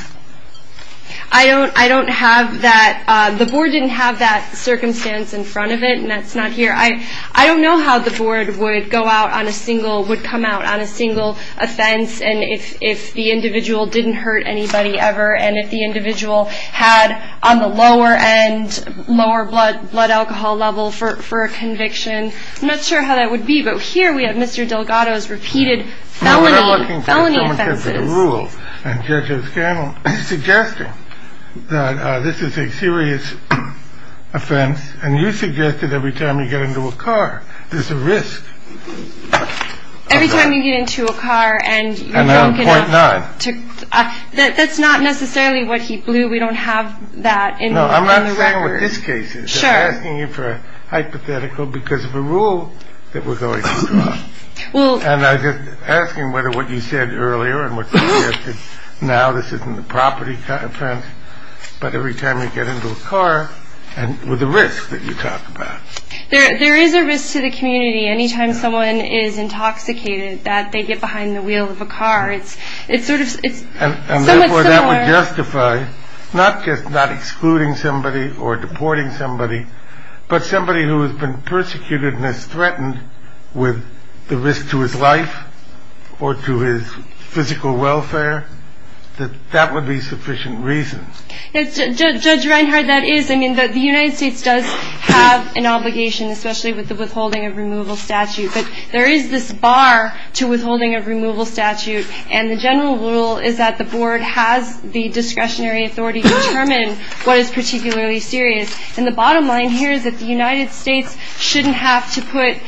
I don't I don't have that. The board didn't have that circumstance in front of it. And that's not here. I don't know how the board would go out on a single would come out on a single offense. And if if the individual didn't hurt anybody ever and if the individual had on the lower and lower blood blood alcohol level for for a conviction, I'm not sure how that would be. But here we have Mr. Delgado's repeated. Now, we're looking for the rule and judges suggesting that this is a serious offense. And you suggested every time you get into a car, there's a risk. Every time you get into a car and you can point nine. That's not necessarily what he blew. We don't have that. No, I'm not saying this case is asking you for a hypothetical because of a rule that we're going to. Well, and I'm just asking whether what you said earlier and what now this isn't the property. But every time you get into a car and with the risk that you talk about, there is a risk to the community. Anytime someone is intoxicated, that they get behind the wheel of a car. It's it's sort of it's justified, not just not excluding somebody or deporting somebody, but somebody who has been persecuted and is threatened with the risk to his life or to his physical welfare. That that would be sufficient reason. Judge Reinhard, that is. I mean, the United States does have an obligation, especially with the withholding of removal statute. But there is this bar to withholding of removal statute. And the general rule is that the board has the discretionary authority to determine what is particularly serious. And the bottom line here is that the United States shouldn't have to put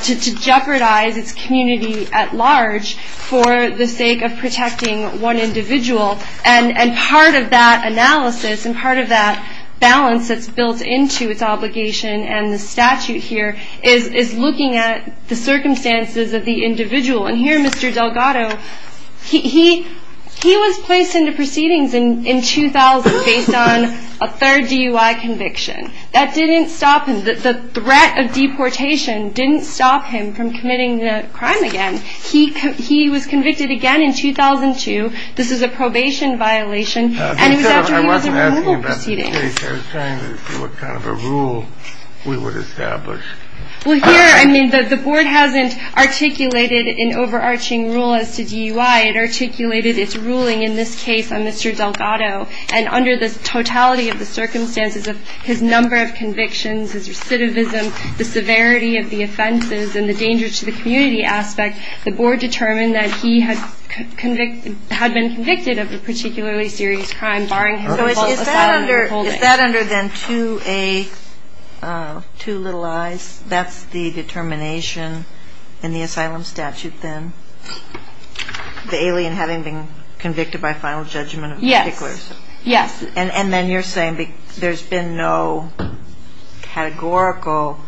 to jeopardize its community at large for the sake of protecting one individual. And part of that analysis and part of that balance that's built into its obligation and the statute here is looking at the circumstances of the individual. And here, Mr. Delgado, he he was placed into proceedings in 2000 based on a third DUI conviction. That didn't stop him. The threat of deportation didn't stop him from committing the crime again. He he was convicted again in 2002. This is a probation violation. And it was after he was in removal proceedings. I was trying to see what kind of a rule we would establish. Well, here I mean, the board hasn't articulated an overarching rule as to DUI. It articulated its ruling in this case on Mr. Delgado. And under the totality of the circumstances of his number of convictions, his recidivism, the severity of the offenses and the danger to the community aspect, the board determined that he had convicted had been convicted of a particularly serious crime. Barring that under then to a two little eyes. That's the determination in the asylum statute. Then the alien having been convicted by final judgment. Yes. Yes. And then you're saying there's been no categorical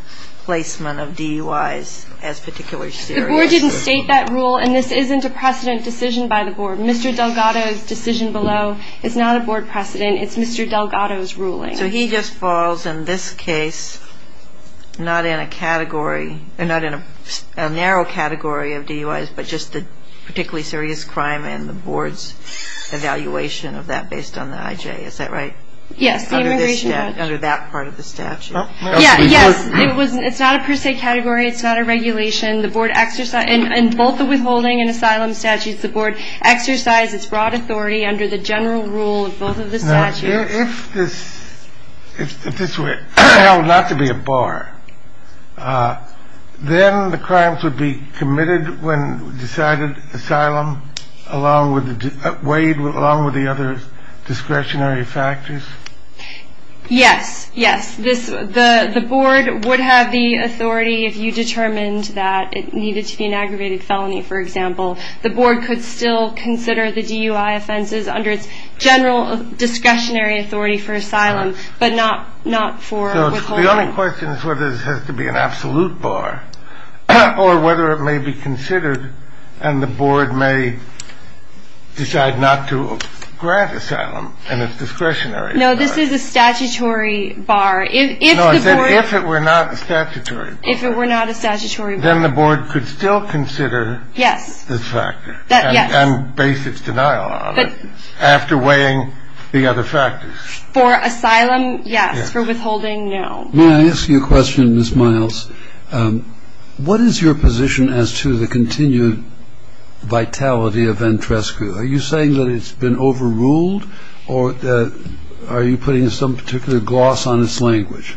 placement of DUIs as particularly serious. The board didn't state that rule. And this isn't a precedent decision by the board. Mr. Delgado's decision below is not a board precedent. It's Mr. Delgado's ruling. So he just falls in this case, not in a category and not in a narrow category of DUIs, but just the particularly serious crime and the board's evaluation of that based on the IJ. Is that right? Yes. Under that part of the statute. Yes. It's not a per se category. It's not a regulation. The board exercise and both the withholding and asylum statutes, the board exercise its broad authority under the general rule of both of the statutes. If this were held not to be a bar, then the crimes would be committed when decided. Asylum along with Wade, along with the other discretionary factors. Yes. Yes. This the board would have the authority if you determined that it needed to be an aggravated felony. For example, the board could still consider the DUI offenses under its general discretionary authority for asylum, but not not for the only question is whether this has to be an absolute bar or whether it may be considered. And the board may decide not to grant asylum and its discretionary. No, this is a statutory bar. If it were not statutory, if it were not a statutory, then the board could still consider. Yes. Yes. And base its denial after weighing the other factors for asylum. Yes. For withholding. Now, may I ask you a question, Ms. Miles? What is your position as to the continued vitality of Entrescu? Are you saying that it's been overruled or are you putting some particular gloss on its language?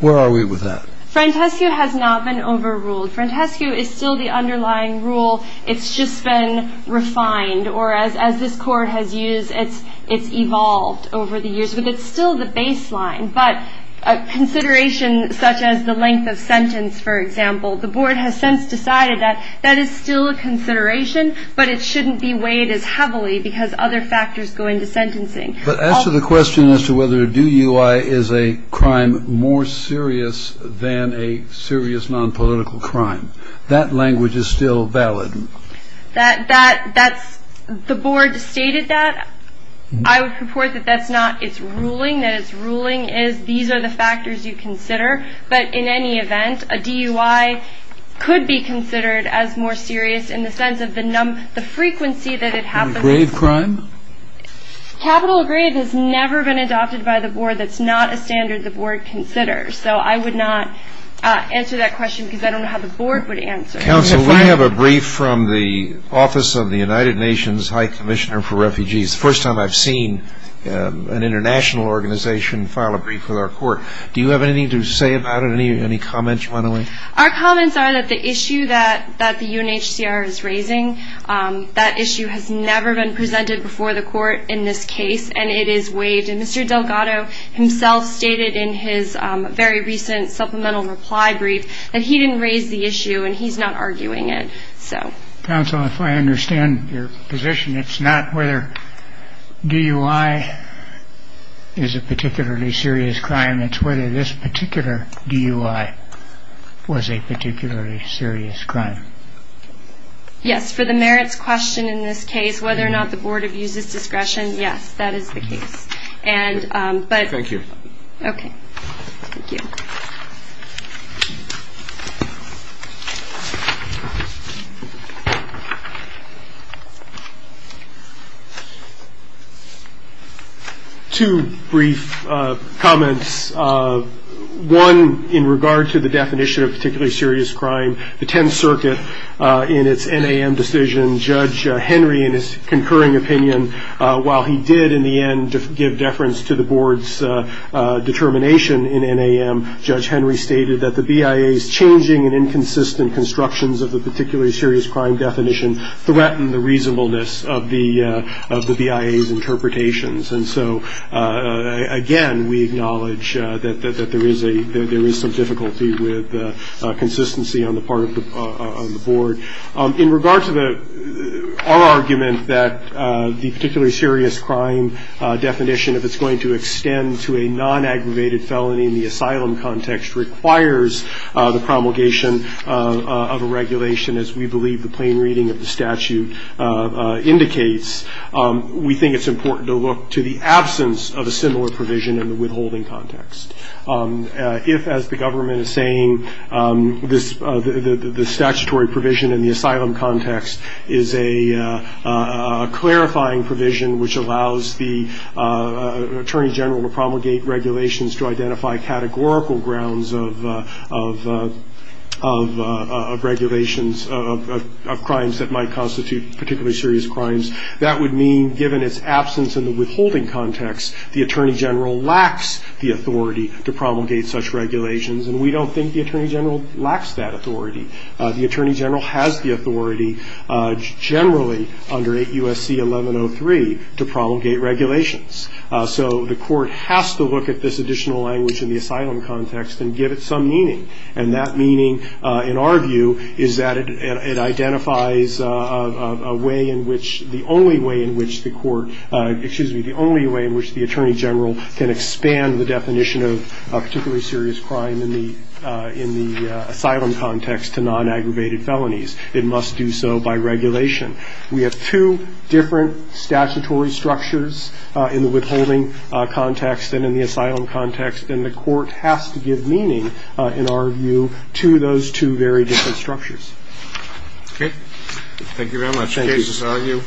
Where are we with that? Entrescu has not been overruled. Entrescu is still the underlying rule. It's just been refined. Or as this court has used, it's evolved over the years. But it's still the baseline. But a consideration such as the length of sentence, for example, the board has since decided that that is still a consideration, but it shouldn't be weighed as heavily because other factors go into sentencing. But as to the question as to whether a DUI is a crime more serious than a serious nonpolitical crime, that language is still valid. The board stated that. I would purport that that's not its ruling. That its ruling is these are the factors you consider. But in any event, a DUI could be considered as more serious in the sense of the frequency that it happens. In a grave crime? Capital of grave has never been adopted by the board. That's not a standard the board considers. So I would not answer that question because I don't know how the board would answer it. Counsel, we have a brief from the Office of the United Nations High Commissioner for Refugees, the first time I've seen an international organization file a brief with our court. Do you have anything to say about it? Any comments you want to make? Our comments are that the issue that the UNHCR is raising, that issue has never been presented before the court in this case, and it is waived. And Mr. Delgado himself stated in his very recent supplemental reply brief that he didn't raise the issue, and he's not arguing it. Counsel, if I understand your position, it's not whether DUI is a particularly serious crime. It's whether this particular DUI was a particularly serious crime. Yes. For the merits question in this case, whether or not the board abuses discretion, yes, that is the case. Thank you. Okay. Thank you. Two brief comments. One, in regard to the definition of particularly serious crime, the Tenth Circuit in its NAM decision, Judge Henry in his concurring opinion, while he did in the end give deference to the board's determination in NAM, Judge Henry stated that the BIA's changing and inconsistent constructions of the particularly serious crime definition threatened the reasonableness of the BIA's interpretations. And so, again, we acknowledge that there is some difficulty with consistency on the part of the board. In regard to our argument that the particularly serious crime definition, if it's going to extend to a non-aggravated felony in the asylum context, requires the promulgation of a regulation, as we believe the plain reading of the statute indicates. We think it's important to look to the absence of a similar provision in the withholding context. If, as the government is saying, the statutory provision in the asylum context is a clarifying provision which allows the Attorney General to promulgate regulations to identify categorical grounds of regulations, of crimes that might constitute particularly serious crimes, that would mean, given its absence in the withholding context, the Attorney General lacks the authority to promulgate such regulations. And we don't think the Attorney General lacks that authority. The Attorney General has the authority generally under 8 U.S.C. 1103 to promulgate regulations. So the court has to look at this additional language in the asylum context and give it some meaning. And that meaning, in our view, is that it identifies a way in which, the only way in which the court, excuse me, the only way in which the Attorney General can expand the definition of a particularly serious crime in the asylum context to non-aggravated felonies. It must do so by regulation. We have two different statutory structures in the withholding context and in the asylum context, and the court has to give meaning, in our view, to those two very different structures. Okay. Thank you very much. Thank you. Case is argued.